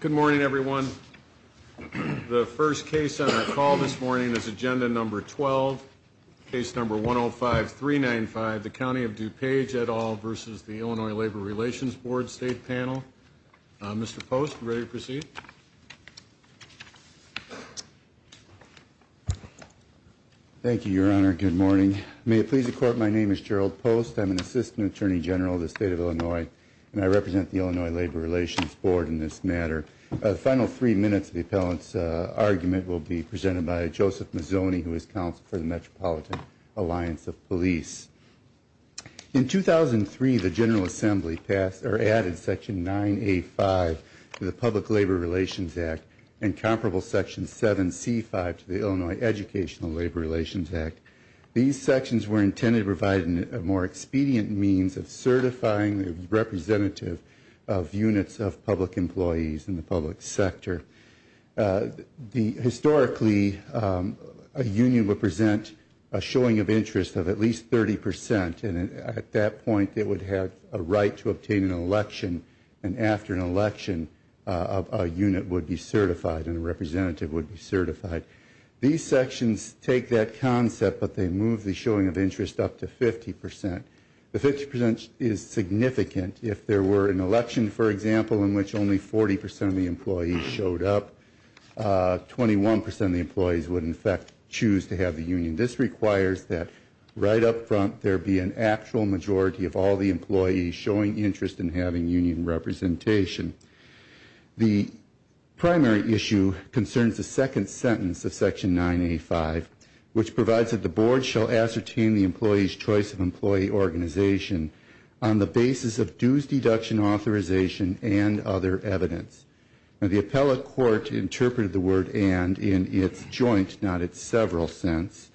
Good morning, everyone. The first case on our call this morning is Agenda Number 12, Case Number 105-395, the County of DuPage, et al. v. Illinois Labor Relations Board State Panel. Mr. Post, are you ready to proceed? Thank you, Your Honor. Good morning. May it please the Court, my name is Gerald Post. I'm an Assistant Attorney General of the Illinois Labor Relations Board in this matter. The final three minutes of the appellant's argument will be presented by Joseph Mazzoni, who is counsel for the Metropolitan Alliance of Police. In 2003, the General Assembly passed or added Section 9A-5 to the Public Labor Relations Act and comparable Section 7C-5 to the Illinois Educational Labor Relations Act. These sections were intended to provide a more comprehensive understanding of the role of public employees in the public sector. Historically, a union would present a showing of interest of at least 30 percent, and at that point, it would have a right to obtain an election, and after an election, a unit would be certified and a representative would be certified. These sections take that concept, but they move the showing of interest up to 50 percent. The 50 percent is significant. If there were an election, for example, in which only 40 percent of the employees showed up, 21 percent of the employees would in fact choose to have the union. This requires that right up front, there be an actual majority of all the employees showing interest in having union representation. The primary issue concerns the second sentence of Section 9A-5, which provides that the Board shall ascertain the employee's choice of basis of dues deduction authorization and other evidence. Now, the appellate court interpreted the word and in its joint, not its several sense,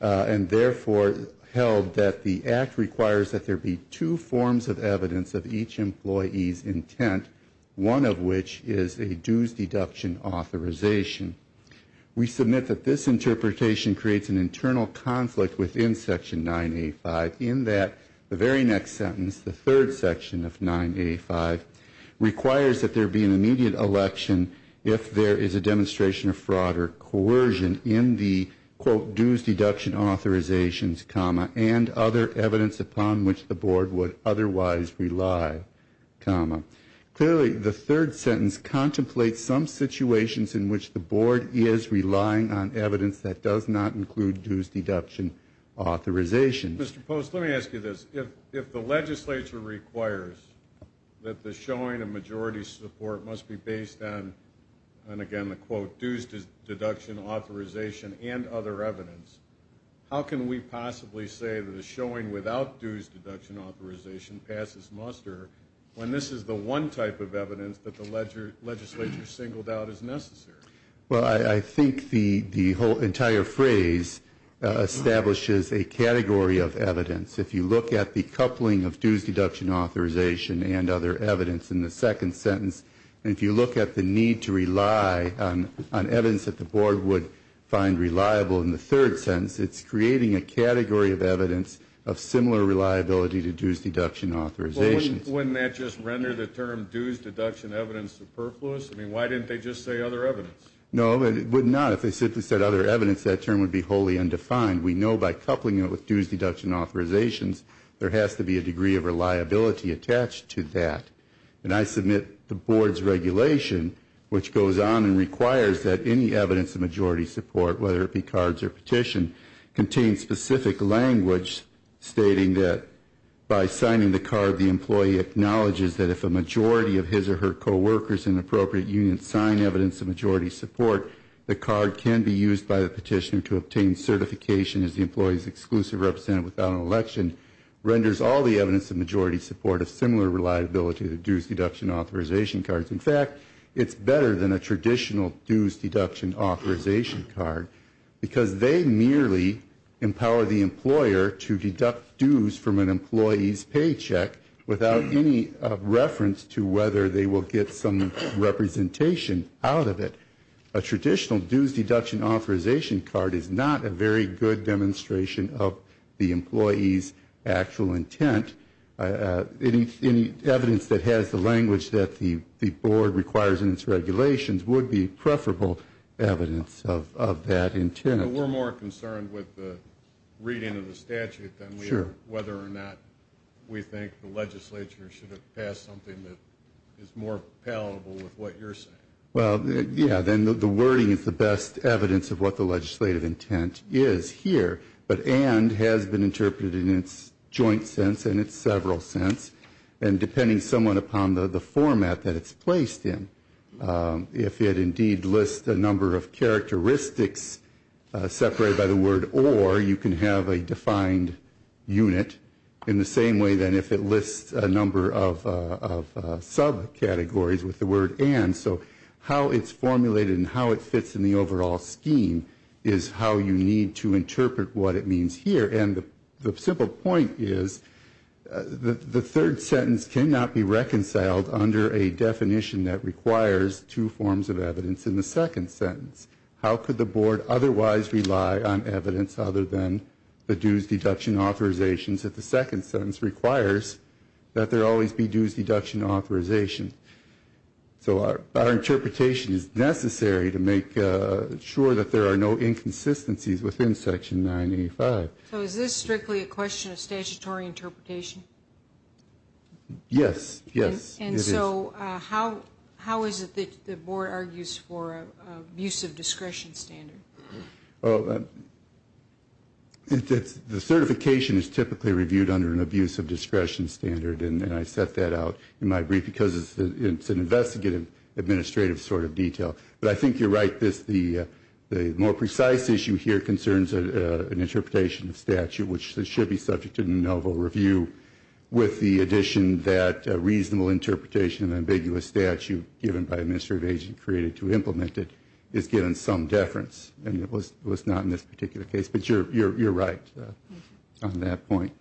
and therefore held that the Act requires that there be two forms of evidence of each employee's intent, one of which is a dues deduction authorization. We submit that this interpretation creates an internal conflict within Section 9A-5 in that the very next sentence, the third section of 9A-5, requires that there be an immediate election if there is a demonstration of fraud or coercion in the, quote, dues deduction authorizations, comma, and other evidence upon which the does not include dues deduction authorizations. Mr. Post, let me ask you this. If the legislature requires that the showing of majority support must be based on, and again the quote, dues deduction authorization and other evidence, how can we possibly say that a showing without dues deduction authorization passes muster when this is the one type of evidence that the legislature singled out as necessary? Well, I think the whole entire phrase establishes a category of evidence. If you look at the coupling of dues deduction authorization and other evidence in the second sentence, and if you look at the need to rely on evidence that the board would find reliable in the third sentence, it's creating a category of evidence of similar reliability to dues deduction authorizations. Well, wouldn't that just render the term dues deduction evidence superfluous? I mean, why didn't they just say other evidence? No, it would not. If they simply said other evidence, that term would be wholly undefined. We know by coupling it with dues deduction authorizations, there has to be a degree of reliability attached to that. And I submit the board's regulation, which goes on and requires that any evidence of majority support, whether it be cards or petition, contains specific language stating that by signing the card, the employee acknowledges that if a majority of his or her coworkers in an appropriate union sign evidence of majority support, the card can be used by the petitioner to obtain certification as the employee's exclusive representative without an election, renders all the evidence of majority support a similar reliability to dues deduction authorization cards. In fact, it's better than a traditional dues deduction authorization card because they merely empower the employer to deduct dues from an employee's paycheck without any reference to whether they will get some representation out of it. A traditional dues deduction authorization card is not a very good board requires in its regulations would be preferable evidence of that intent. But we're more concerned with the reading of the statute than whether or not we think the legislature should have passed something that is more palatable with what you're saying. Well, yeah, then the wording is the best evidence of what the legislative intent is here. But it has been interpreted in its joint sense and its several sense and depending somewhat upon the format that it's placed in. If it indeed lists a number of characteristics separated by the word or you can have a defined unit in the same way than if it lists a number of subcategories with the word and so how it's simple point is that the third sentence cannot be reconciled under a definition that requires two forms of evidence in the second sentence. How could the board otherwise rely on evidence other than the dues deduction authorizations that the second sentence requires that there always be dues deduction authorization. So our is this strictly a question of statutory interpretation. Yes. Yes. And so how how is it that the board argues for use of discretion standard. It's the certification is typically reviewed under an abuse of discretion standard and I set that out in my brief because it's an investigative administrative sort of statute which should be subject to a novel review with the addition that a reasonable interpretation of ambiguous statute given by a minister of age and created to implement it is given some deference and it was not in this particular case. But you're you're you're right on that point.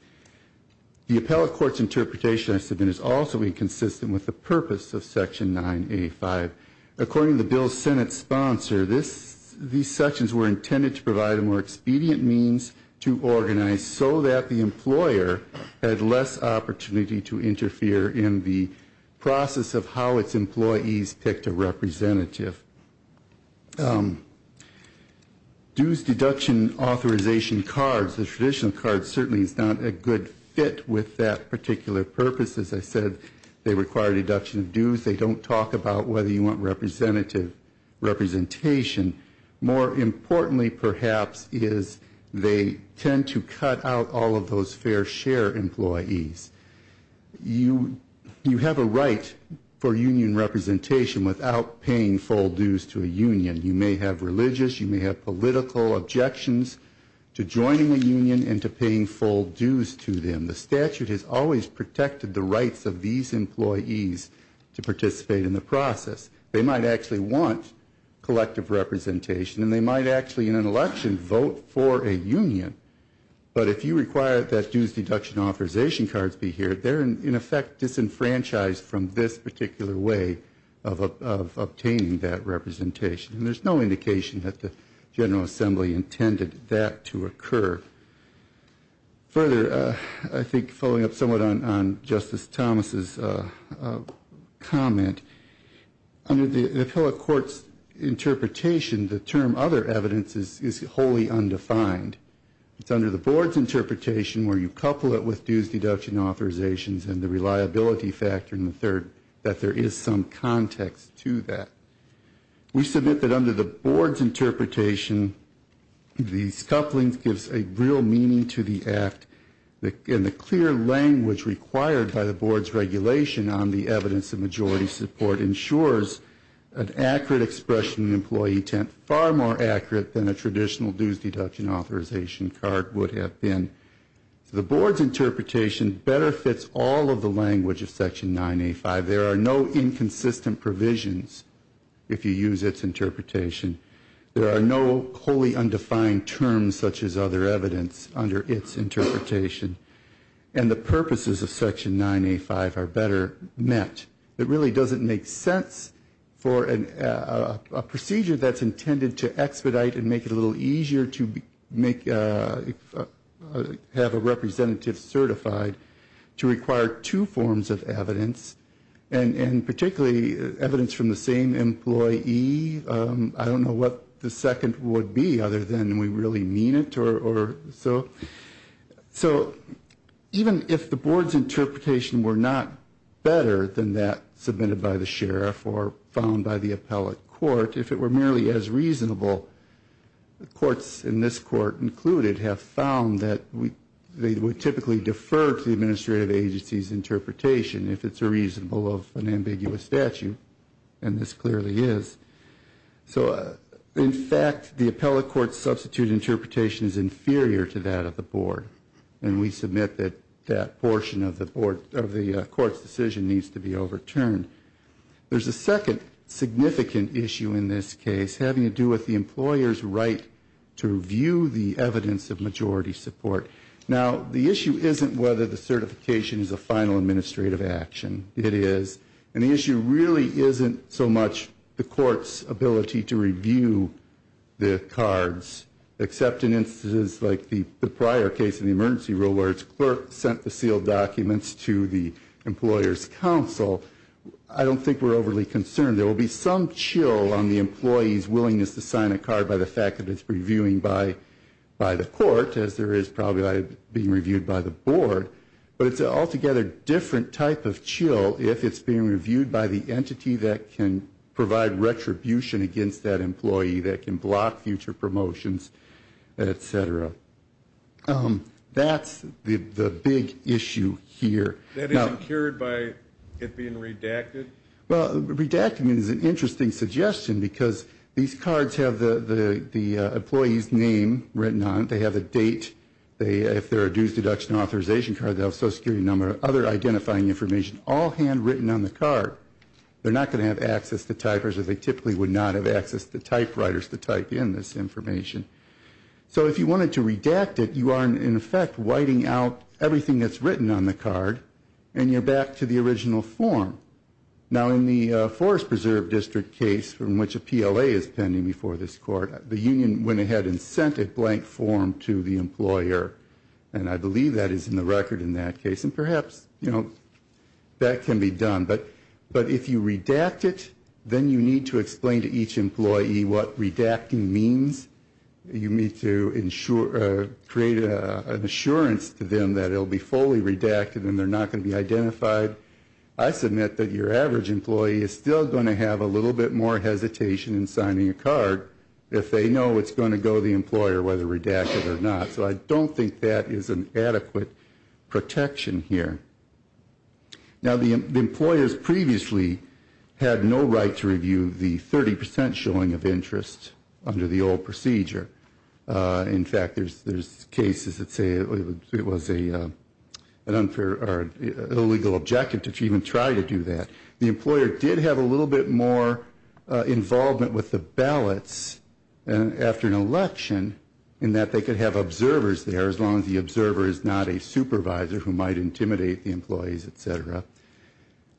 The appellate court's interpretation consistent with the purpose of Section 9 8 5. According to the bill Senate sponsor this. These sections were intended to provide a more expedient means to organize so that the employer had less opportunity to interfere in the process of how its employees picked a representative. Dues deduction authorization cards the traditional card certainly is not a good fit with that particular purpose. As I said they require a deduction of dues. They don't talk about whether you want representative representation. More importantly perhaps is they tend to cut out all of those fair share employees. You you have a right for union representation without paying full dues to a union. You may have religious you may have political objections to joining the union and to paying full dues to them. The statute has always protected the rights of these employees to participate in the process. They might actually want collective representation and they might actually in an appropriate way of obtaining that representation. And there's no indication that the General Assembly intended that to occur. Further I think following up somewhat on Justice Thomas's comment under the appellate court's interpretation the term other evidence is wholly undefined. It's under the board's interpretation where you have to provide a context to that. We submit that under the board's interpretation these couplings gives a real meaning to the act in the clear language required by the board's regulation on the evidence of majority support ensures an accurate expression of employee intent far more accurate than a traditional dues deduction authorization card would have been. The board's interpretation better fits all of the language of Section 985. There are no inconsistent provisions if you use its interpretation. There are no wholly undefined terms such as other evidence under its interpretation. And the purposes of Section 985 are better met. It really doesn't make sense for a board to have a representative certified to require two forms of evidence and particularly evidence from the same employee. I don't know what the second would be other than we really mean it or so. So even if the board's interpretation were not better than that submitted by the sheriff or found by the appellate court if it were merely as reasonable courts in this court included have found that they would typically defer to the administrative agency's interpretation if it's a reasonable of an ambiguous statute. And this clearly is. So in fact the appellate court's substitute interpretation is inferior to that of the board. And we submit that that portion of the board of the court's decision needs to be overturned. There's a second significant issue in this case having to do with the employer's right to review the evidence of majority support. Now the issue isn't whether the certification is a final administrative action. It is. And the issue really isn't so much the court's ability to review the cards except in instances like the prior case in the emergency rule where the insurance clerk sent the sealed documents to the employer's counsel. I don't think we're overly concerned. There will be some chill on the employee's willingness to sign a card by the fact that it's reviewing by the court as there is probably being reviewed by the board. But it's an altogether different type of chill if it's being reviewed by the entity that can provide retribution against that employee that can block future promotions, et cetera. That's the issue. The big issue here. That isn't cured by it being redacted? Well, redacting is an interesting suggestion because these cards have the employee's name written on it. They have a date. If they're a dues deduction authorization card, they'll have a social security number, other identifying information all handwritten on the card. They're not going to have access to typers as they typically would not have access to typewriters to type in this information. So if you wanted to redact it, you are in effect whiting out the employee's right to review the evidence of majority support. Everything that's written on the card, and you're back to the original form. Now, in the Forest Preserve District case from which a PLA is pending before this court, the union went ahead and sent a blank form to the employer. And I believe that is in the record in that case. And perhaps, you know, that can be done. But if you redact it, then you need to explain to each employee what redacting means. You need to create an assurance to them that they're not going to have access to that information. It'll be fully redacted, and they're not going to be identified. I submit that your average employee is still going to have a little bit more hesitation in signing a card if they know it's going to go to the employer, whether redacted or not. So I don't think that is an adequate protection here. Now, the employers previously had no right to review the 30 percent showing of interest under the old procedure. In fact, there's cases that say it was a 30 percent showing of interest, and that's not true. That's not an unfair or illegal objective to even try to do that. The employer did have a little bit more involvement with the ballots after an election in that they could have observers there, as long as the observer is not a supervisor who might intimidate the employees, et cetera.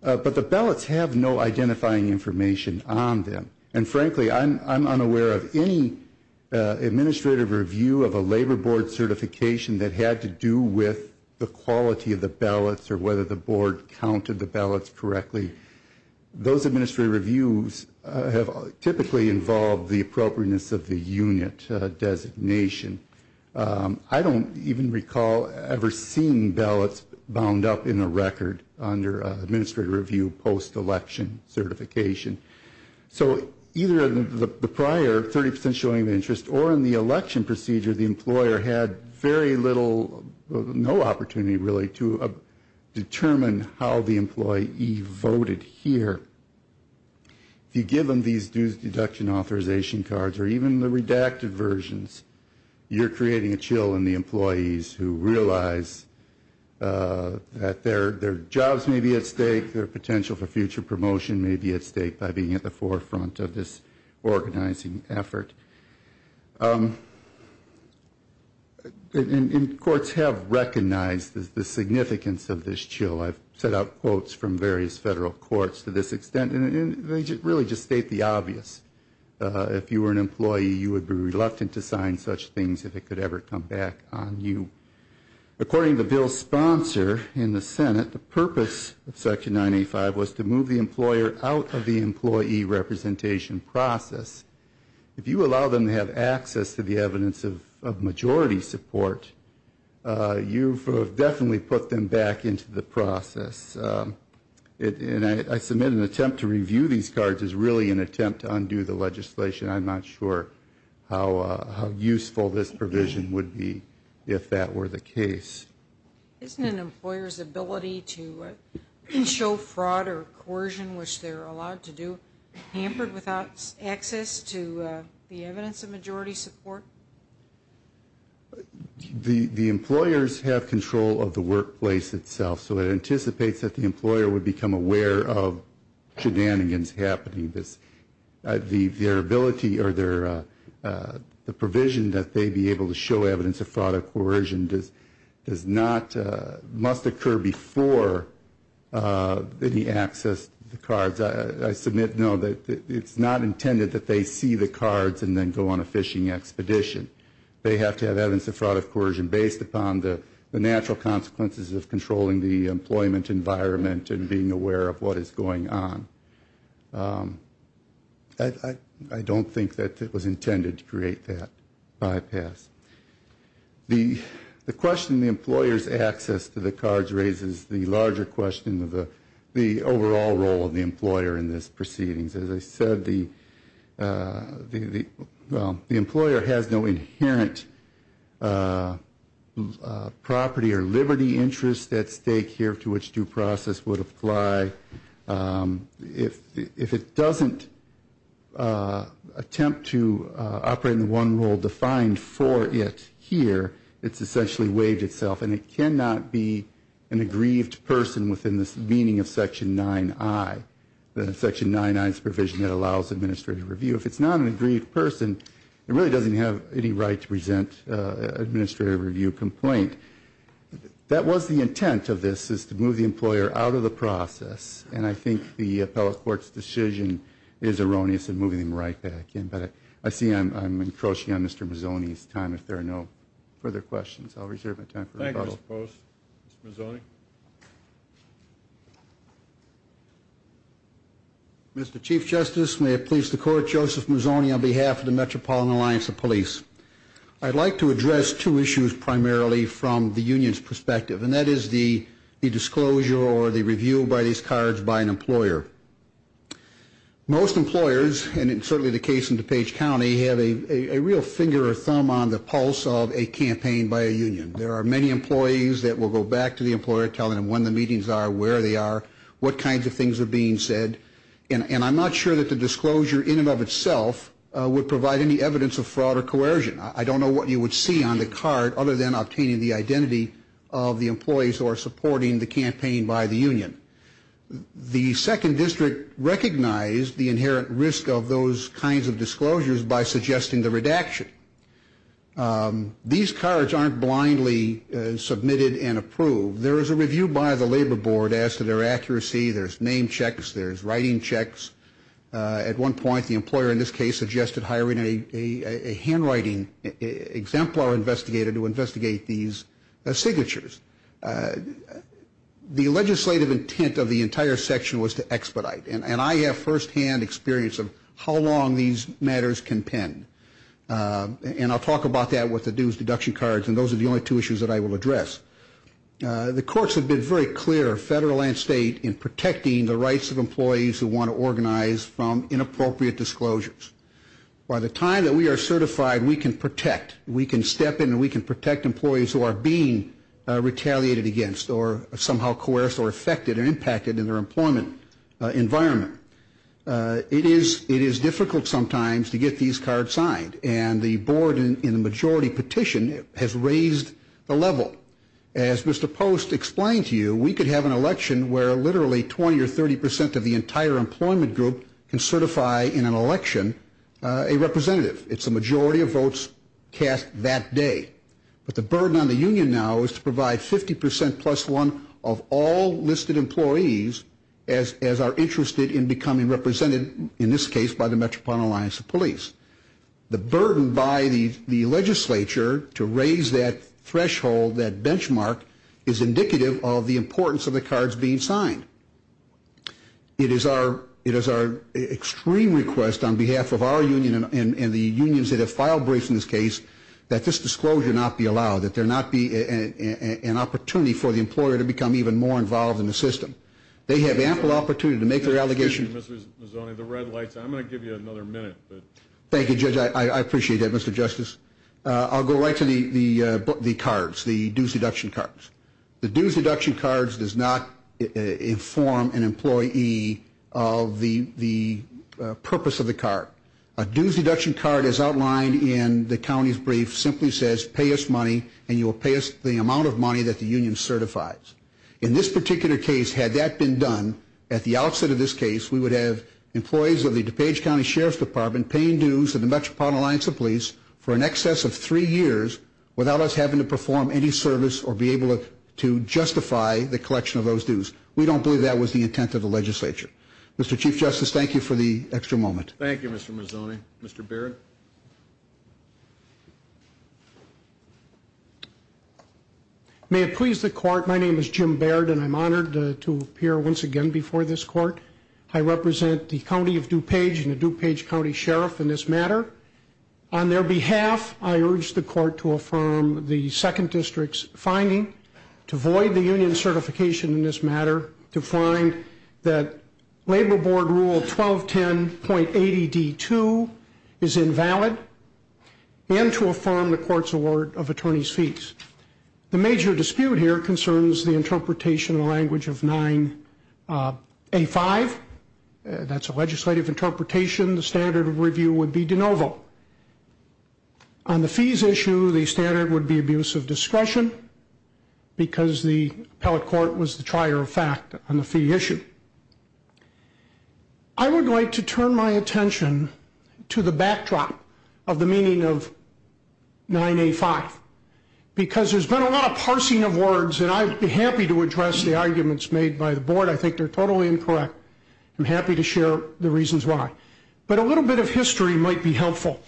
But the ballots have no identifying information on them. And frankly, I'm unaware of any administrative review of a labor board certification that had to do with the quality of the ballots or whether the board counted the ballots correctly. Those administrative reviews have typically involved the appropriateness of the unit designation. I don't even recall ever seeing ballots bound up in a record under administrative review post-election certification. So either the prior 30 percent showing of interest or in the election procedure, the employer had very little, no opportunity really, to determine how the employee voted here. If you give them these dues deduction authorization cards or even the redacted versions, you're creating a chill in the employees who realize that their jobs may be at stake, their potential for future promotion may be at stake. And that's what we're trying to do by being at the forefront of this organizing effort. And courts have recognized the significance of this chill. I've set out quotes from various federal courts to this extent, and they really just state the obvious. If you were an employee, you would be reluctant to sign such things if it could ever come back on you. According to Bill's sponsor in the Senate, the purpose of Section 985 was to move the employer out of the employee representation process. If you allow them to have access to the evidence of majority support, you've definitely put them back into the process. And I submit an attempt to review these cards is really an attempt to undo the legislation. I'm not sure how useful this provision would be if that were the case. Isn't an employer's ability to show fraud or coercion, which they're allowed to do, hampered without access to the evidence of majority support? The employers have control of the workplace itself, so it anticipates that the employer would become aware of shenanigans happening. The provision that they be able to show evidence of fraud or coercion must occur before any access to the cards. I submit, no, it's not intended that they see the cards and then go on a fishing expedition. They have to have evidence of fraud or coercion based upon the natural consequences of controlling the employment environment and being aware of what is going on. I don't think that it was intended to create that bypass. The question the employer's access to the cards raises the larger question of the overall role of the employer in this proceedings. As I said, the employer has no inherent property or liberty interest at stake here to which due process would apply. If it doesn't attempt to operate in the one role defined for it here, it's essentially waived itself. And it cannot be an aggrieved person within the meaning of Section 9I, the Section 9I's provision that allows administrative review. If it's not an aggrieved person, it really doesn't have any right to present an administrative review complaint. That was the intent of this, is to move the employer out of the process, and I think the appellate court's decision is erroneous in moving him right back in. But I see I'm encroaching on Mr. Mazzoni's time if there are no further questions. Mr. Chief Justice, may it please the Court, Joseph Mazzoni on behalf of the Metropolitan Alliance of Police. I'd like to address two issues primarily from the union's perspective, and that is the disclosure or the review by these cards by an employer. Most employers, and it's certainly the case in DuPage County, have a real finger or thumb on the pulse of a campaign by a union. There are many employees that will go back to the employer telling them when the meetings are, where they are, what kinds of things are being said, and I'm not sure that the disclosure in and of itself would provide any evidence of fraud or coercion. I don't know what you would see on the card other than obtaining the identity of the employees who are supporting the campaign by the union. The Second District recognized the inherent risk of those kinds of disclosures by suggesting the redaction. These cards aren't blindly submitted and approved. There is a review by the Labor Board as to their accuracy, there's name checks, there's writing checks. At one point, the employer in this case suggested hiring a handwriting exemplar investigator to investigate these signatures. The legislative intent of the entire section was to expedite, and I have firsthand experience of how long these matters can pen. And I'll talk about that with the dues deduction cards, and those are the only two issues that I will address. The courts have been very clear, federal and state, in protecting the rights of employees who want to organize from inappropriate disclosures. By the time that we are certified, we can protect, we can step in and we can protect employees who are being retaliated against or somehow coerced or affected or impacted in their employment environment. It is difficult sometimes to get these cards signed, and the board in the majority petition has raised the level. As Mr. Post explained to you, we could have an election where literally 20 or 30 percent of the entire employment group can certify in an election a representative. It's the majority of votes cast that day. But the burden on the union now is to provide 50 percent plus one of all listed employees as are interested in becoming represented, in this case, by the Metropolitan Alliance of Police. The burden by the legislature to raise that threshold, that benchmark, is indicative of the importance of the cards being signed. It is our extreme request on behalf of our union and the unions that have filed briefs in this case that this disclosure not be allowed, that there not be an opportunity for the employer to become even more involved in the system. They have ample opportunity to make their allegations. Thank you, Judge. I appreciate that, Mr. Justice. I'll go right to the cards, the dues deduction cards. The dues deduction cards does not inform an employee of the purpose of the card. A dues deduction card, as outlined in the county's brief, simply says pay us money, and you will pay us the amount of money that the union certifies. In this particular case, had that been done, at the outset of this case, we would have employees of the DuPage County Sheriff's Department paying dues to the Metropolitan Alliance of Police for in excess of three years without us having to perform any service or be able to justify the collection of those dues. We don't believe that was the intent of the legislature. Mr. Chief Justice, thank you for the extra moment. Thank you, Mr. Mazzoni. Mr. Baird. May it please the Court, my name is Jim Baird, and I'm honored to appear once again before this Court. I represent the County of DuPage and the DuPage County Sheriff in this matter. On their behalf, I urge the Court to affirm the Second District's finding to void the union certification in this matter, to find that Labor Board Rule 1210.80D2 is invalid, and to affirm the Court's award of attorneys' fees. The major dispute here concerns the interpretation and language of 9A5. That's a legislative interpretation. The standard of review would be de novo. On the fees issue, the standard would be abuse of discretion, because the appellate court was the trier of fact on the fee issue. I would like to turn my attention to the backdrop of the meaning of 9A5, because there's been a lot of parsing of words, and I'd be happy to address the arguments made by the Board. I think they're totally incorrect. I'm happy to share the reasons why. But a little bit of history might be helpful.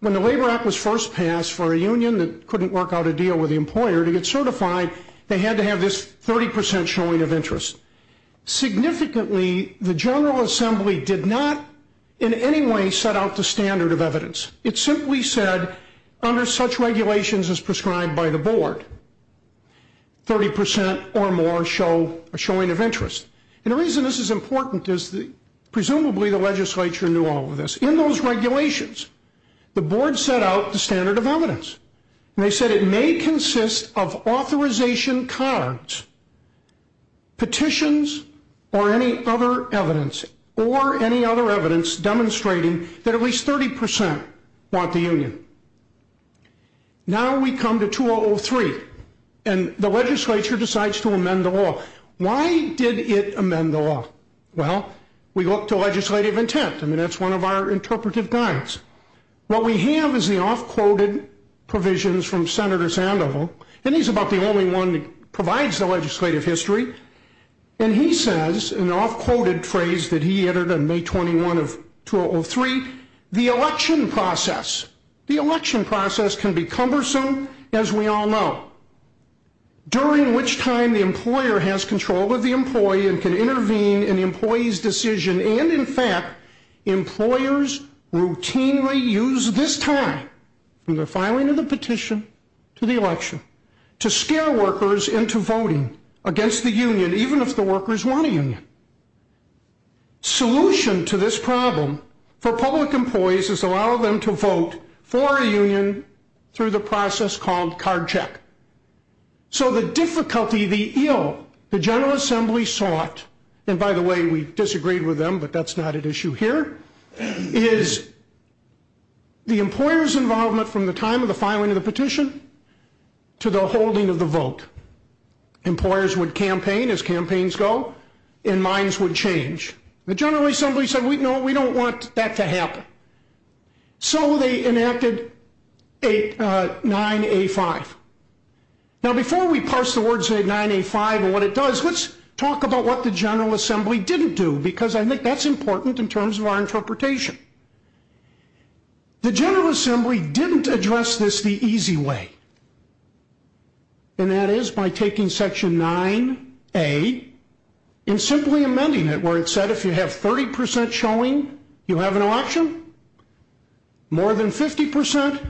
When the Labor Act was first passed for a union that couldn't work out a deal with the employer to get certified, they had to have this 30% showing of interest. Significantly, the General Assembly did not in any way set out the standard of evidence. It simply said, under such regulations as prescribed by the Board, 30% or more showing of interest. And the reason this is important is presumably the legislature knew all of this. In those regulations, the Board set out the standard of evidence, and they said it may consist of authorization cards, petitions, or any other evidence, or any other evidence demonstrating that at least 30% want the union. Now we come to 2003, and the legislature decides to amend the law. Why did it amend the law? Well, we look to legislative intent. I mean, that's one of our interpretive guides. What we have is the off-quoted provisions from Senator Sandoval, and he's about the only one that provides the legislative history. And he says, in an off-quoted phrase that he entered on May 21 of 2003, the election process, the election process can be cumbersome, as we all know, during which time the employer has control of the employee and can intervene in the employee's decision. And in fact, employers routinely use this time, from the filing of the petition to the election, to scare workers into voting against the union, even if the workers want a union. Solution to this problem for public employees is to allow them to vote for a union through the process called card check. So the difficulty, the ill, the General Assembly sought, and by the way, we disagreed with them, but that's not at issue here, is the employer's involvement from the time of the filing of the petition to the holding of the vote. Employers would campaign as campaigns go, and minds would change. The General Assembly said, no, we don't want that to happen. So they enacted 9A5. Now before we parse the words 9A5 and what it does, let's talk about what the General Assembly didn't do, because I think that's important in terms of our interpretation. The General Assembly didn't address this the easy way. And that is by taking Section 9A and simply amending it, where it said if you have 30% showing you have an election, more than 50%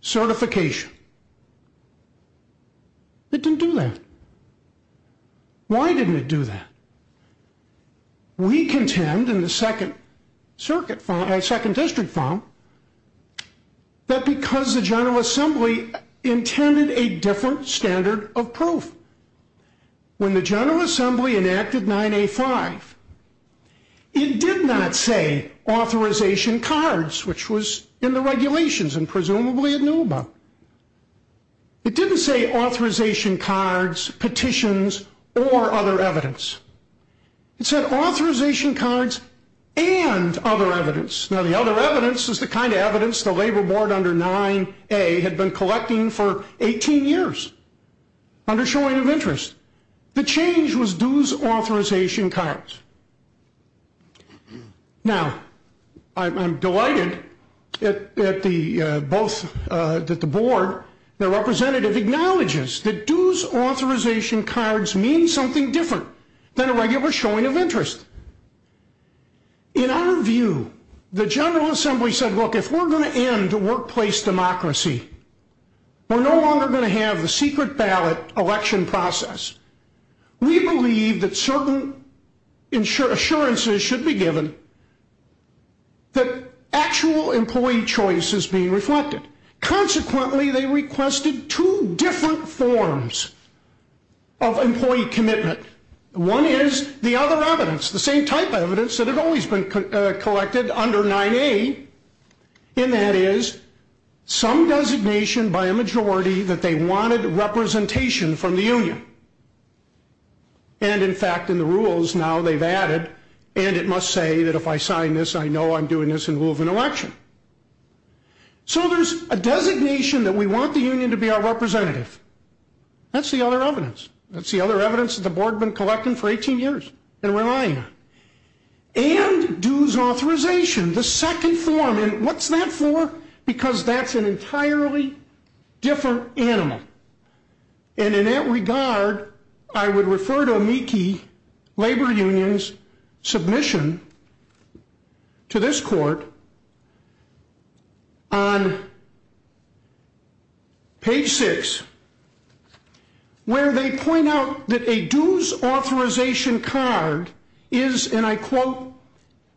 certification. It didn't do that. Why didn't it do that? We contend in the second district file, that because the General Assembly intended a different standard of proof. When the General Assembly enacted 9A5, it did not say authorization cards, which was in the regulations, and presumably it knew about. It didn't say authorization cards, petitions, or other evidence. It said authorization cards and other evidence. Now the other evidence is the kind of evidence the Labor Board under 9A had been collecting for 18 years under showing of interest. The change was dues authorization cards. Now I'm delighted that the board, their representative, acknowledges that dues authorization cards mean something different than a regular showing of interest. In our view, the General Assembly said, look, if we're going to end workplace democracy, we're no longer going to have the secret ballot election process. We believe that certain assurances should be given that actual employee choice is being reflected. Consequently, they requested two different forms of employee commitment. One is the other evidence, the same type of evidence that had always been collected under 9A, and that is some designation by a majority that they wanted representation from the union. And, in fact, in the rules now they've added, and it must say that if I sign this I know I'm doing this in lieu of an election. So there's a designation that we want the union to be our representative. That's the other evidence. That's the other evidence that the board had been collecting for 18 years and relying on. And dues authorization, the second form. And what's that for? Because that's an entirely different animal. And in that regard, I would refer to Meekie Labor Union's submission to this court on page 6 where they point out that a dues authorization card is, and I quote,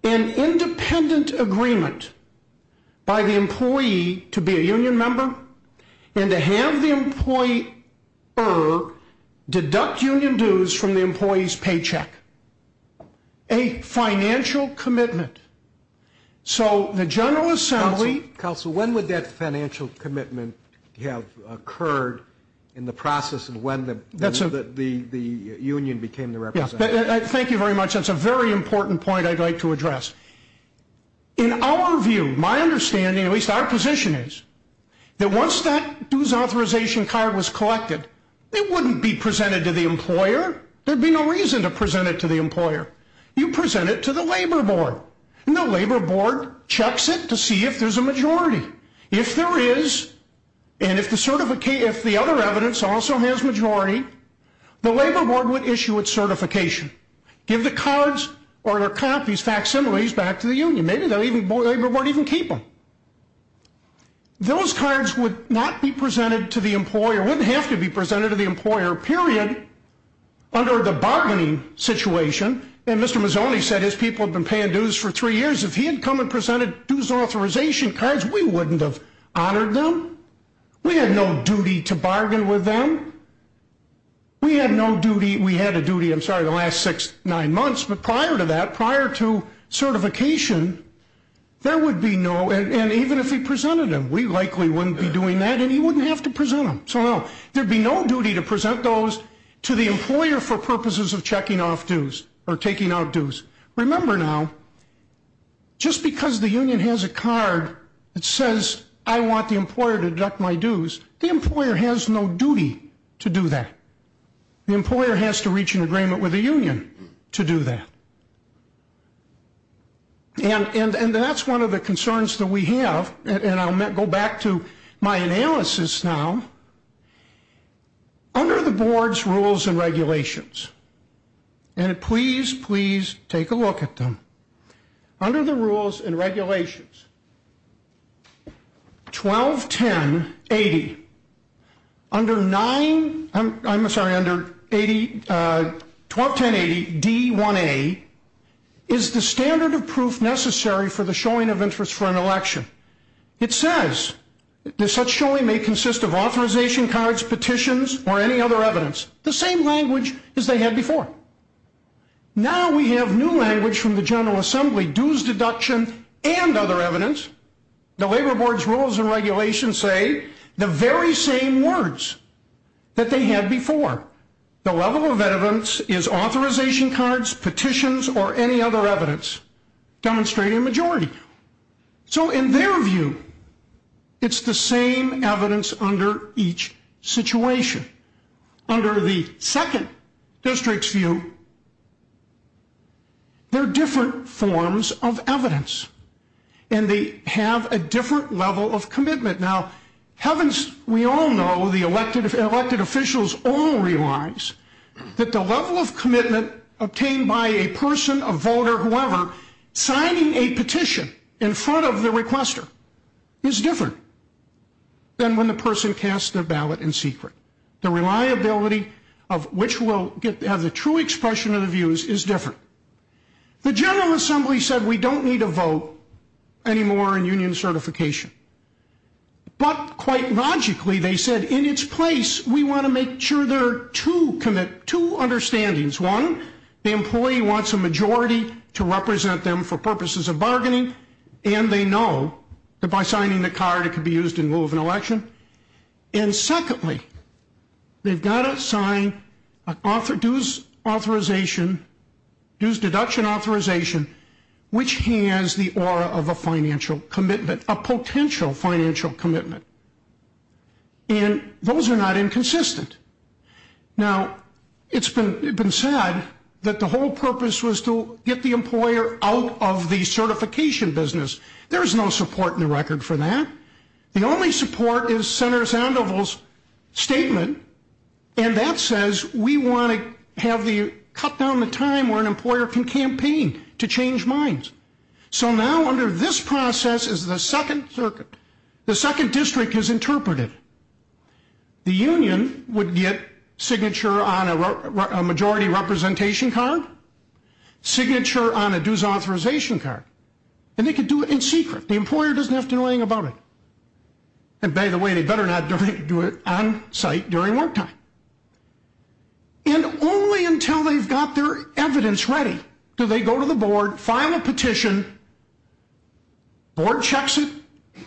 an independent agreement by the employee to be a union member and to have the employer deduct union dues from the employee's paycheck. A financial commitment. So the General Assembly... in the process of when the union became the representative. Thank you very much. That's a very important point I'd like to address. In our view, my understanding, at least our position is, that once that dues authorization card was collected, it wouldn't be presented to the employer. There would be no reason to present it to the employer. You present it to the labor board, and the labor board checks it to see if there's a majority. If there is, and if the other evidence also has majority, the labor board would issue its certification. Give the cards or their copies, facsimiles, back to the union. Maybe the labor board would even keep them. Those cards would not be presented to the employer, wouldn't have to be presented to the employer, period, under the bargaining situation. And Mr. Mazzoni said his people had been paying dues for three years. If he had come and presented dues authorization cards, we wouldn't have honored them. We had no duty to bargain with them. We had no duty, we had a duty, I'm sorry, the last six, nine months. But prior to that, prior to certification, there would be no, and even if he presented them, we likely wouldn't be doing that, and he wouldn't have to present them. So no, there'd be no duty to present those to the employer for purposes of checking off dues, or taking out dues. Remember now, just because the union has a card that says I want the employer to deduct my dues, the employer has no duty to do that. The employer has to reach an agreement with the union to do that. And that's one of the concerns that we have, and I'll go back to my analysis now. Under the board's rules and regulations, and please, please take a look at them, under the rules and regulations, 121080, under 9, I'm sorry, under 121080D1A, is the standard of proof necessary for the showing of interest for an election. It says that such showing may consist of authorization cards, petitions, or any other evidence. The same language as they had before. Now we have new language from the General Assembly, dues deduction and other evidence. The labor board's rules and regulations say the very same words that they had before. The level of evidence is authorization cards, petitions, or any other evidence demonstrating a majority. So in their view, it's the same evidence under each situation. Under the second district's view, they're different forms of evidence, and they have a different level of commitment. Now, we all know, the elected officials all realize that the level of commitment obtained by a person, a voter, whoever, signing a petition in front of the requester is different than when the person casts their ballot in secret. The reliability of which will have the true expression of the views is different. The General Assembly said we don't need a vote anymore in union certification. But quite logically, they said in its place, we want to make sure there are two understandings. One, the employee wants a majority to represent them for purposes of bargaining, and they know that by signing the card it could be used in lieu of an election. And secondly, they've got to sign a dues authorization, dues deduction authorization, which has the aura of a financial commitment, a potential financial commitment. And those are not inconsistent. Now, it's been said that the whole purpose was to get the employer out of the certification business. There's no support in the record for that. The only support is Senator Sandoval's statement, and that says we want to cut down the time where an employer can campaign to change minds. So now under this process is the second circuit. The second district has interpreted. The union would get signature on a majority representation card, signature on a dues authorization card, and they could do it in secret. The employer doesn't have to know anything about it. And by the way, they better not do it on site during work time. And only until they've got their evidence ready do they go to the board, file a petition, board checks it,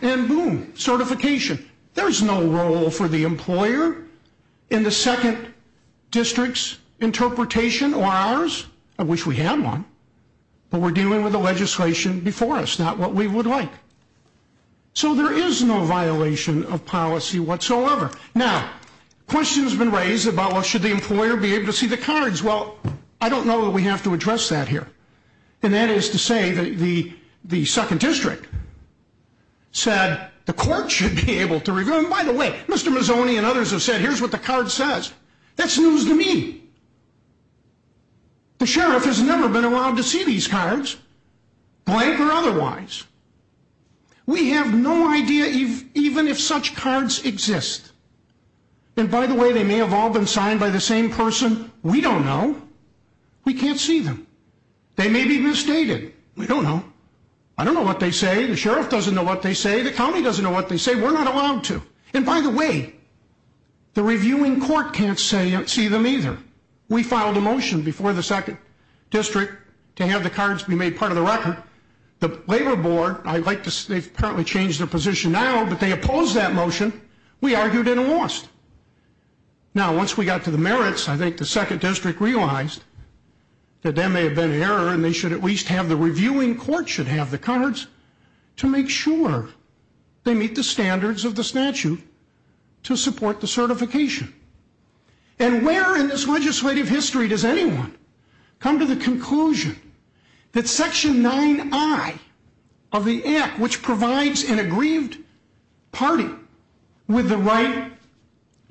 and boom, certification. There's no role for the employer in the second district's interpretation or ours. I wish we had one. But we're dealing with the legislation before us, not what we would like. So there is no violation of policy whatsoever. Now, questions have been raised about, well, should the employer be able to see the cards? Well, I don't know that we have to address that here. And that is to say that the second district said the court should be able to review them. By the way, Mr. Mazzoni and others have said here's what the card says. That's news to me. The sheriff has never been allowed to see these cards, blank or otherwise. We have no idea even if such cards exist. And by the way, they may have all been signed by the same person. We don't know. We can't see them. They may be misstated. We don't know. I don't know what they say. The sheriff doesn't know what they say. The county doesn't know what they say. We're not allowed to. And by the way, the reviewing court can't see them either. We filed a motion before the second district to have the cards be made part of the record. The labor board, they've apparently changed their position now, but they opposed that motion. We argued and it lost. Now, once we got to the merits, I think the second district realized that there may have been an error and they should at least have the reviewing court should have the cards to make sure they meet the standards of the statute to support the certification. And where in this legislative history does anyone come to the conclusion that Section 9I of the Act, which provides an aggrieved party with the right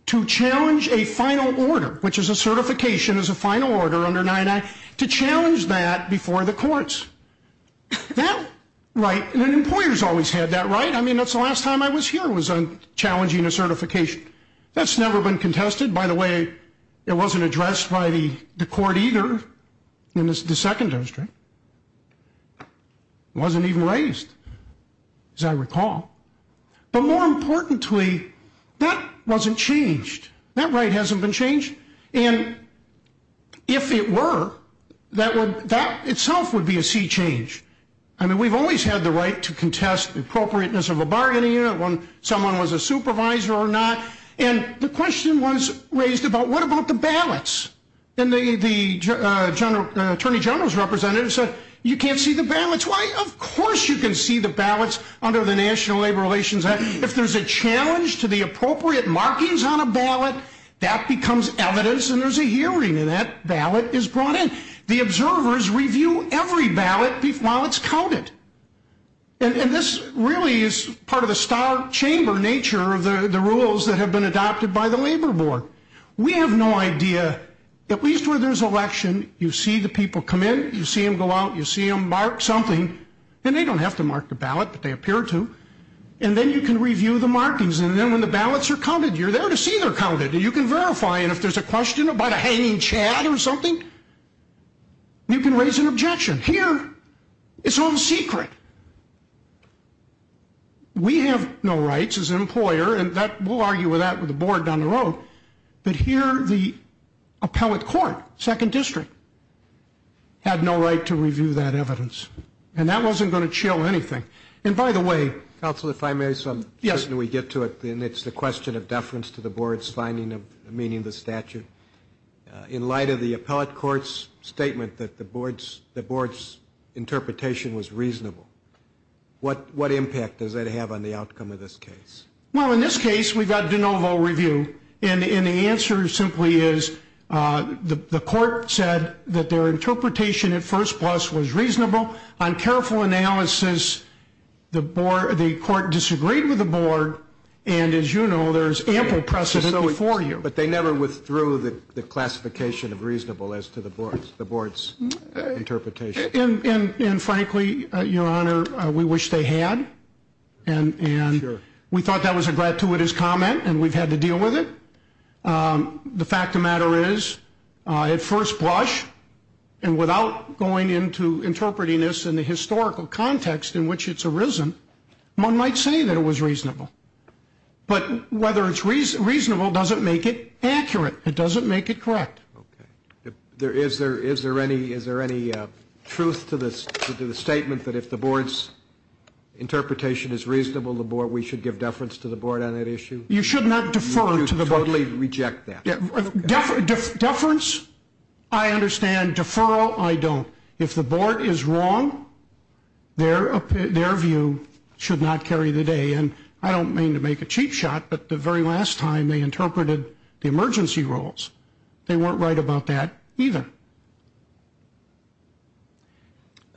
to challenge a final order, which is a certification as a final order under 9I, to challenge that before the courts? That right, and employers always had that right. I mean, that's the last time I was here was on challenging a certification. That's never been contested. By the way, it wasn't addressed by the court either in the second district. It wasn't even raised, as I recall. But more importantly, that wasn't changed. That right hasn't been changed. And if it were, that itself would be a sea change. I mean, we've always had the right to contest the appropriateness of a bargaining unit when someone was a supervisor or not. And the question was raised about what about the ballots? And the Attorney General's representative said, you can't see the ballots. Why, of course you can see the ballots under the National Labor Relations Act. If there's a challenge to the appropriate markings on a ballot, that becomes evidence and there's a hearing, and that ballot is brought in. The observers review every ballot while it's counted. And this really is part of the star chamber nature of the rules that have been adopted by the Labor Board. We have no idea, at least where there's election, you see the people come in, you see them go out, you see them mark something. And they don't have to mark the ballot, but they appear to. And then you can review the markings. And then when the ballots are counted, you're there to see they're counted. And you can verify. And if there's a question about a hanging chad or something, you can raise an objection. Here, it's all secret. We have no rights as an employer, and we'll argue with that with the board down the road, but here the appellate court, second district, had no right to review that evidence. And that wasn't going to chill anything. And, by the way. Counsel, if I may. Yes. It's the question of deference to the board's finding of a meaningless statute. In light of the appellate court's statement that the board's interpretation was reasonable, what impact does that have on the outcome of this case? Well, in this case, we've had de novo review. And the answer simply is the court said that their interpretation at first plus was reasonable. On careful analysis, the court disagreed with the board. And, as you know, there's ample precedent before you. But they never withdrew the classification of reasonable as to the board's interpretation. And, frankly, Your Honor, we wish they had. And we thought that was a gratuitous comment, and we've had to deal with it. The fact of the matter is, at first blush, and without going into interpreting this in the historical context in which it's arisen, one might say that it was reasonable. But whether it's reasonable doesn't make it accurate. It doesn't make it correct. Okay. Is there any truth to the statement that if the board's interpretation is reasonable, we should give deference to the board on that issue? You should not defer to the board. You totally reject that. Deference, I understand. Deferral, I don't. If the board is wrong, their view should not carry the day. And I don't mean to make a cheap shot, but the very last time they interpreted the emergency rules, they weren't right about that either.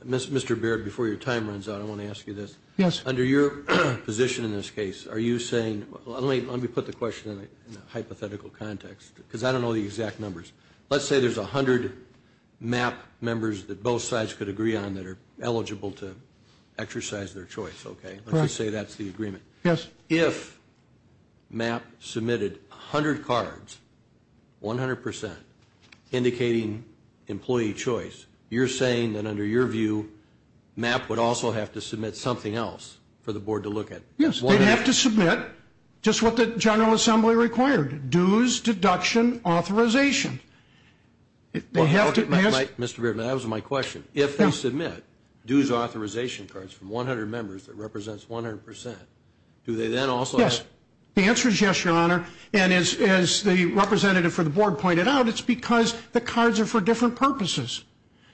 Mr. Baird, before your time runs out, I want to ask you this. Yes. Under your position in this case, are you saying, let me put the question in a hypothetical context, because I don't know the exact numbers. Let's say there's 100 MAP members that both sides could agree on that are eligible to exercise their choice. Let's just say that's the agreement. Yes. If MAP submitted 100 cards, 100%, indicating employee choice, you're saying that under your view MAP would also have to submit something else for the board to look at? Yes. They'd have to submit just what the General Assembly required, dues, deduction, authorization. Mr. Baird, that was my question. If they submit dues authorization cards from 100 members that represents 100%, do they then also have to? Yes. The answer is yes, Your Honor. And as the representative for the board pointed out, it's because the cards are for different purposes.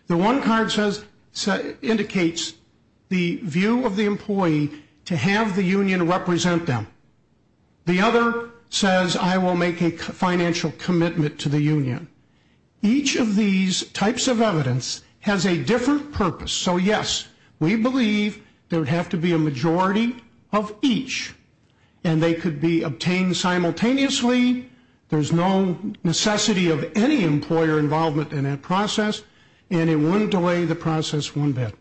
The one card indicates the view of the employee to have the union represent them. The other says I will make a financial commitment to the union. Each of these types of evidence has a different purpose. So, yes, we believe there would have to be a majority of each, and they could be obtained simultaneously. There's no necessity of any employer involvement in that process, and it wouldn't delay the process one bit.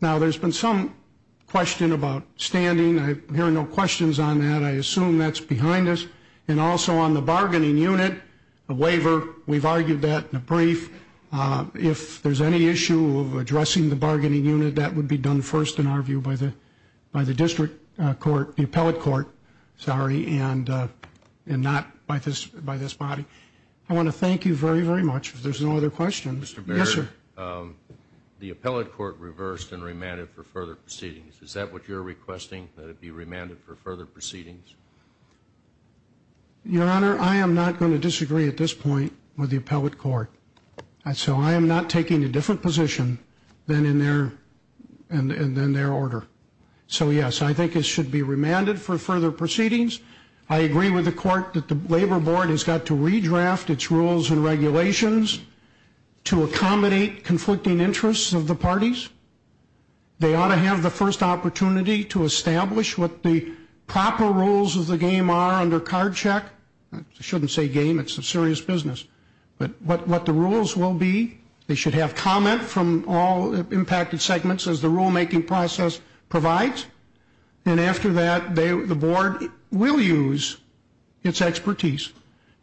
Now, there's been some question about standing. I hear no questions on that. I assume that's behind us. And also on the bargaining unit, the waiver, we've argued that in a brief. If there's any issue of addressing the bargaining unit, that would be done first, in our view, by the district court, the appellate court, sorry, and not by this body. I want to thank you very, very much. If there's no other questions. Mr. Baird. Yes, sir. The appellate court reversed and remanded for further proceedings. Is that what you're requesting, that it be remanded for further proceedings? Your Honor, I am not going to disagree at this point with the appellate court. So I am not taking a different position than in their order. So, yes, I think it should be remanded for further proceedings. I agree with the court that the Labor Board has got to redraft its rules and regulations to accommodate conflicting interests of the parties. They ought to have the first opportunity to establish what the proper rules of the game are under card check. I shouldn't say game. It's a serious business. But what the rules will be, they should have comment from all impacted segments, as the rulemaking process provides. And after that, the board will use its expertise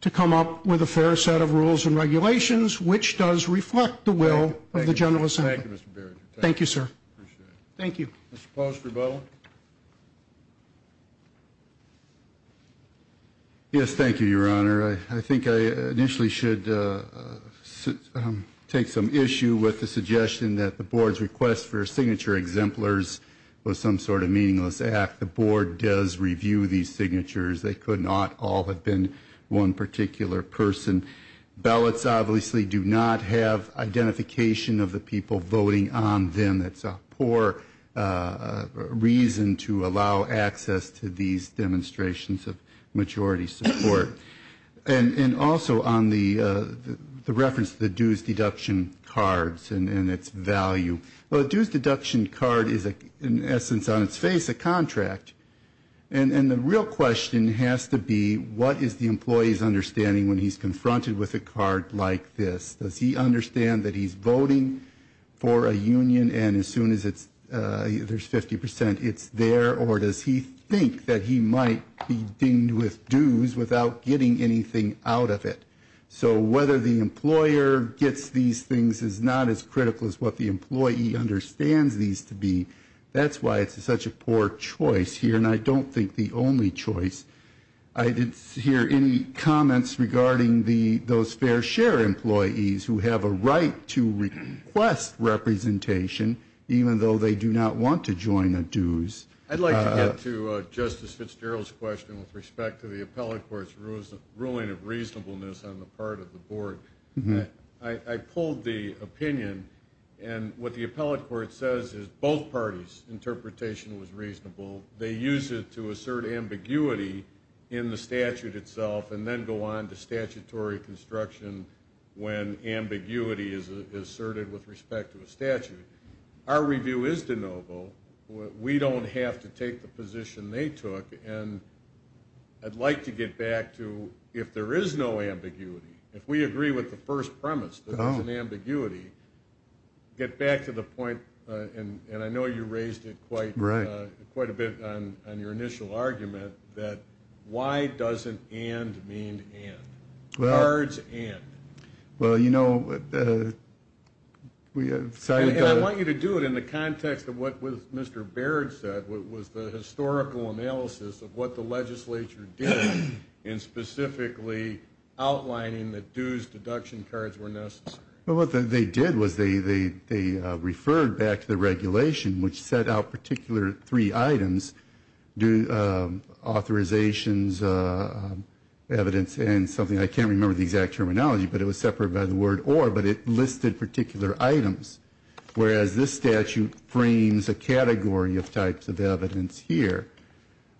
to come up with a fair set of rules and regulations which does reflect the will of the general assembly. Thank you, Mr. Baird. Thank you, sir. Appreciate it. Thank you. Mr. Post, rebuttal. Yes, thank you, Your Honor. I think I initially should take some issue with the suggestion that the board's request for signature exemplars was some sort of meaningless act. The board does review these signatures. They could not all have been one particular person. Ballots obviously do not have identification of the people voting on them. That's a poor reason to allow access to these demonstrations of majority support. And also on the reference to the dues deduction cards and its value. Well, a dues deduction card is, in essence, on its face a contract. And the real question has to be, what is the employee's understanding when he's confronted with a card like this? Does he understand that he's voting for a union, and as soon as there's 50%, it's there? Or does he think that he might be dinged with dues without getting anything out of it? So whether the employer gets these things is not as critical as what the employee understands these to be. That's why it's such a poor choice here, and I don't think the only choice. I didn't hear any comments regarding those fair share employees who have a right to request representation, even though they do not want to join the dues. I'd like to get to Justice Fitzgerald's question with respect to the appellate court's ruling of reasonableness on the part of the board. I pulled the opinion, and what the appellate court says is both parties' interpretation was reasonable. They use it to assert ambiguity in the statute itself and then go on to statutory construction when ambiguity is asserted with respect to a statute. Our review is de novo. We don't have to take the position they took, and I'd like to get back to if there is no ambiguity, if we agree with the first premise that there's an ambiguity, get back to the point, and I know you raised it quite a bit on your initial argument, that why doesn't and mean and? Cards and. Well, you know, we decided to go to... I want you to do it in the context of what Mr. Baird said, which was the historical analysis of what the legislature did in specifically outlining that dues deduction cards were necessary. Well, what they did was they referred back to the regulation, which set out particular three items, authorizations, evidence, and something, I can't remember the exact terminology, but it was separate by the word or, but it listed particular items, whereas this statute frames a category of types of evidence here.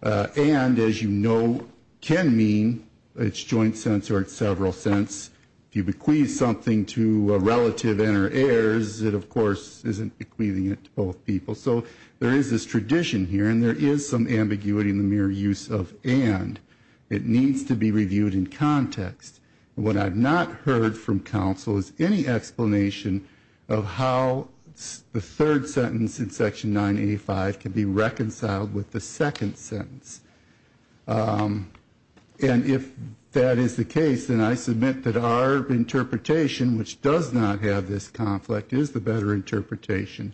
And, as you know, can mean, it's joint sense or it's several sense. If you bequeath something to a relative and her heirs, it, of course, isn't bequeathing it to both people. So there is this tradition here, and there is some ambiguity in the mere use of and. What I've not heard from counsel is any explanation of how the third sentence in Section 985 can be reconciled with the second sentence. And if that is the case, then I submit that our interpretation, which does not have this conflict, is the better interpretation.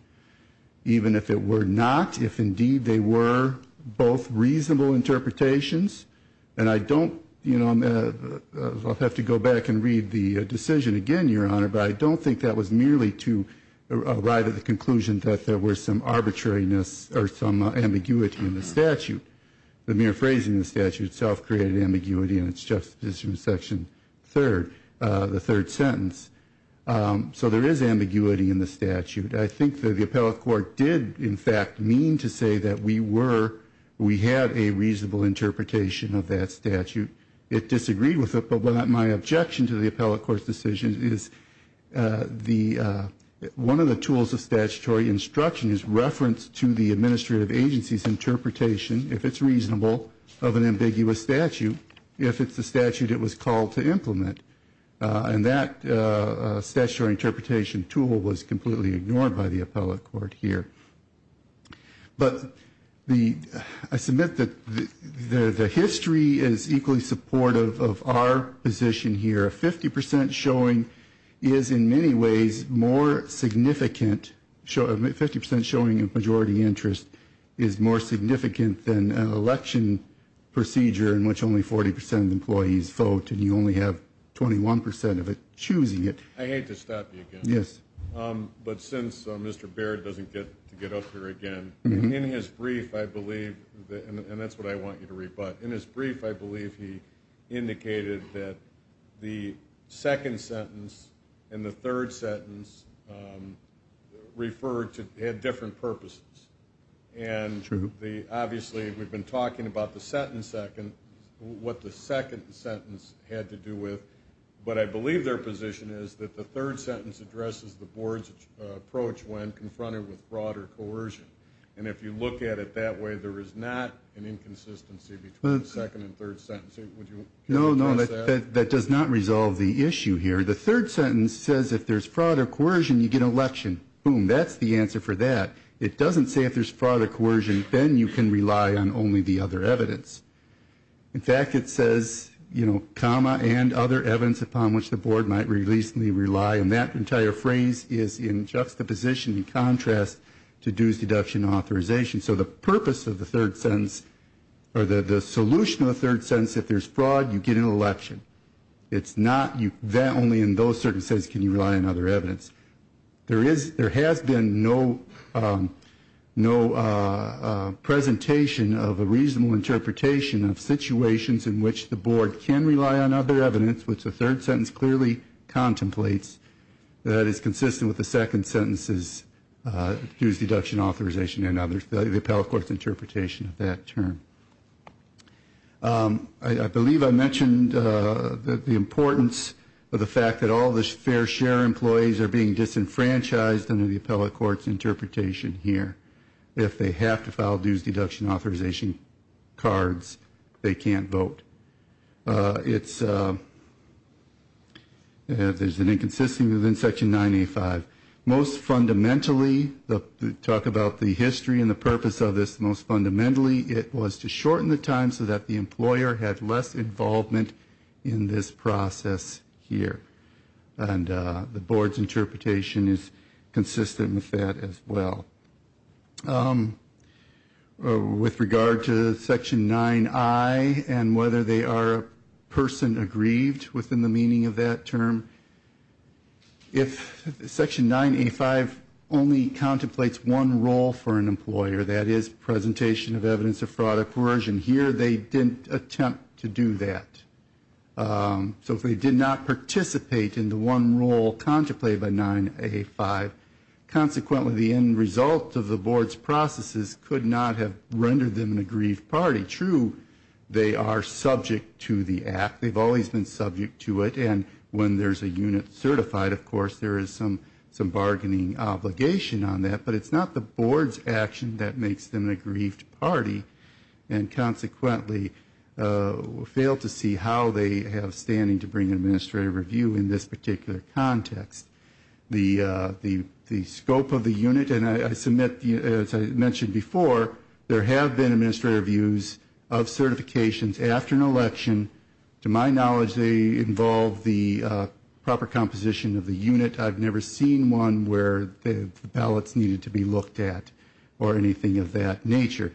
Even if it were not, if indeed they were both reasonable interpretations. And I don't, you know, I'll have to go back and read the decision again, Your Honor, but I don't think that was merely to arrive at the conclusion that there were some arbitrariness or some ambiguity in the statute. The mere phrasing of the statute itself created ambiguity in its justification in Section 3, the third sentence. So there is ambiguity in the statute. I think that the appellate court did, in fact, mean to say that we were, we had a reasonable interpretation of that statute. It disagreed with it, but my objection to the appellate court's decision is the, one of the tools of statutory instruction is reference to the administrative agency's interpretation, if it's reasonable, of an ambiguous statute, if it's a statute it was called to implement. And that statutory interpretation tool was completely ignored by the appellate court here. But the, I submit that the history is equally supportive of our position here. A 50 percent showing is in many ways more significant, a 50 percent showing of majority interest is more significant than an election procedure in which only 40 percent of employees vote and you only have 21 percent of it choosing it. I hate to stop you again. Yes. But since Mr. Baird doesn't get to get up here again, in his brief I believe, and that's what I want you to read, but in his brief I believe he indicated that the second sentence and the third sentence referred to, had different purposes. True. Obviously we've been talking about the sentence second, what the second sentence had to do with, but I believe their position is that the third sentence addresses the board's approach when confronted with fraud or coercion. And if you look at it that way there is not an inconsistency between the second and third sentences. No, no, that does not resolve the issue here. The third sentence says if there's fraud or coercion you get an election. Boom, that's the answer for that. It doesn't say if there's fraud or coercion then you can rely on only the other evidence. In fact, it says, you know, comma, and other evidence upon which the board might reasonably rely, and that entire phrase is in juxtaposition and contrast to dues, deduction, and authorization. So the purpose of the third sentence, or the solution of the third sentence, if there's fraud you get an election. It's not that only in those circumstances can you rely on other evidence. There has been no presentation of a reasonable interpretation of situations in which the board can rely on other evidence, which the third sentence clearly contemplates. That is consistent with the second sentence's dues, deduction, authorization, and others, the appellate court's interpretation of that term. I believe I mentioned the importance of the fact that all the fair share employees are being disenfranchised under the appellate court's interpretation here. If they have to file dues, deduction, authorization cards, they can't vote. There's an inconsistency within Section 9A5. Most fundamentally, to talk about the history and the purpose of this, most fundamentally it was to shorten the time so that the employer had less involvement in this process here. And the board's interpretation is consistent with that as well. With regard to Section 9I and whether they are person aggrieved within the meaning of that term, if Section 9A5 only contemplates one role for an employer, that is presentation of evidence of fraud or coercion, here they didn't attempt to do that. So if they did not participate in the one role contemplated by 9A5, consequently the end result of the board's processes could not have rendered them an aggrieved party. True, they are subject to the act. They've always been subject to it, and when there's a unit certified, of course, there is some bargaining obligation on that, but it's not the board's action that makes them an aggrieved party and consequently failed to see how they have standing to bring an administrative review in this particular context. The scope of the unit, and I submit, as I mentioned before, there have been administrative reviews of certifications after an election. To my knowledge, they involve the proper composition of the unit. I've never seen one where the ballots needed to be looked at or anything of that nature.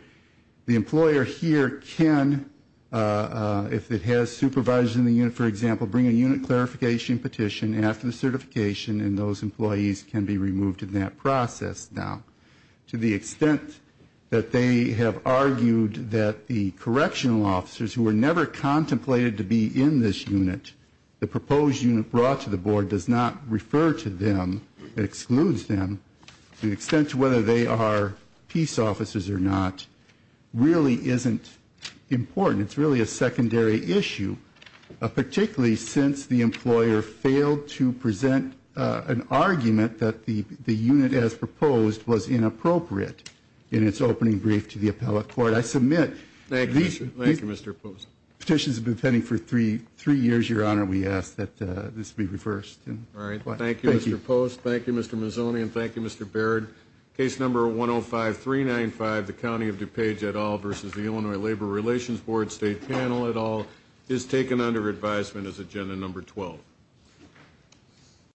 The employer here can, if it has supervisors in the unit, for example, bring a unit clarification petition after the certification, and those employees can be removed in that process now. To the extent that they have argued that the correctional officers, who were never contemplated to be in this unit, the proposed unit brought to the board does not refer to them. It excludes them. To the extent to whether they are peace officers or not really isn't important. It's really a secondary issue, particularly since the employer failed to present an argument that the unit as proposed was inappropriate in its opening brief to the appellate court. I submit these petitions have been pending for three years, Your Honor. We ask that this be reversed. All right. Thank you, Mr. Post. Thank you, Mr. Mazzoni, and thank you, Mr. Baird. Case number 105395, the County of DuPage et al. versus the Illinois Labor Relations Board State Panel et al. is taken under advisement as agenda number 12.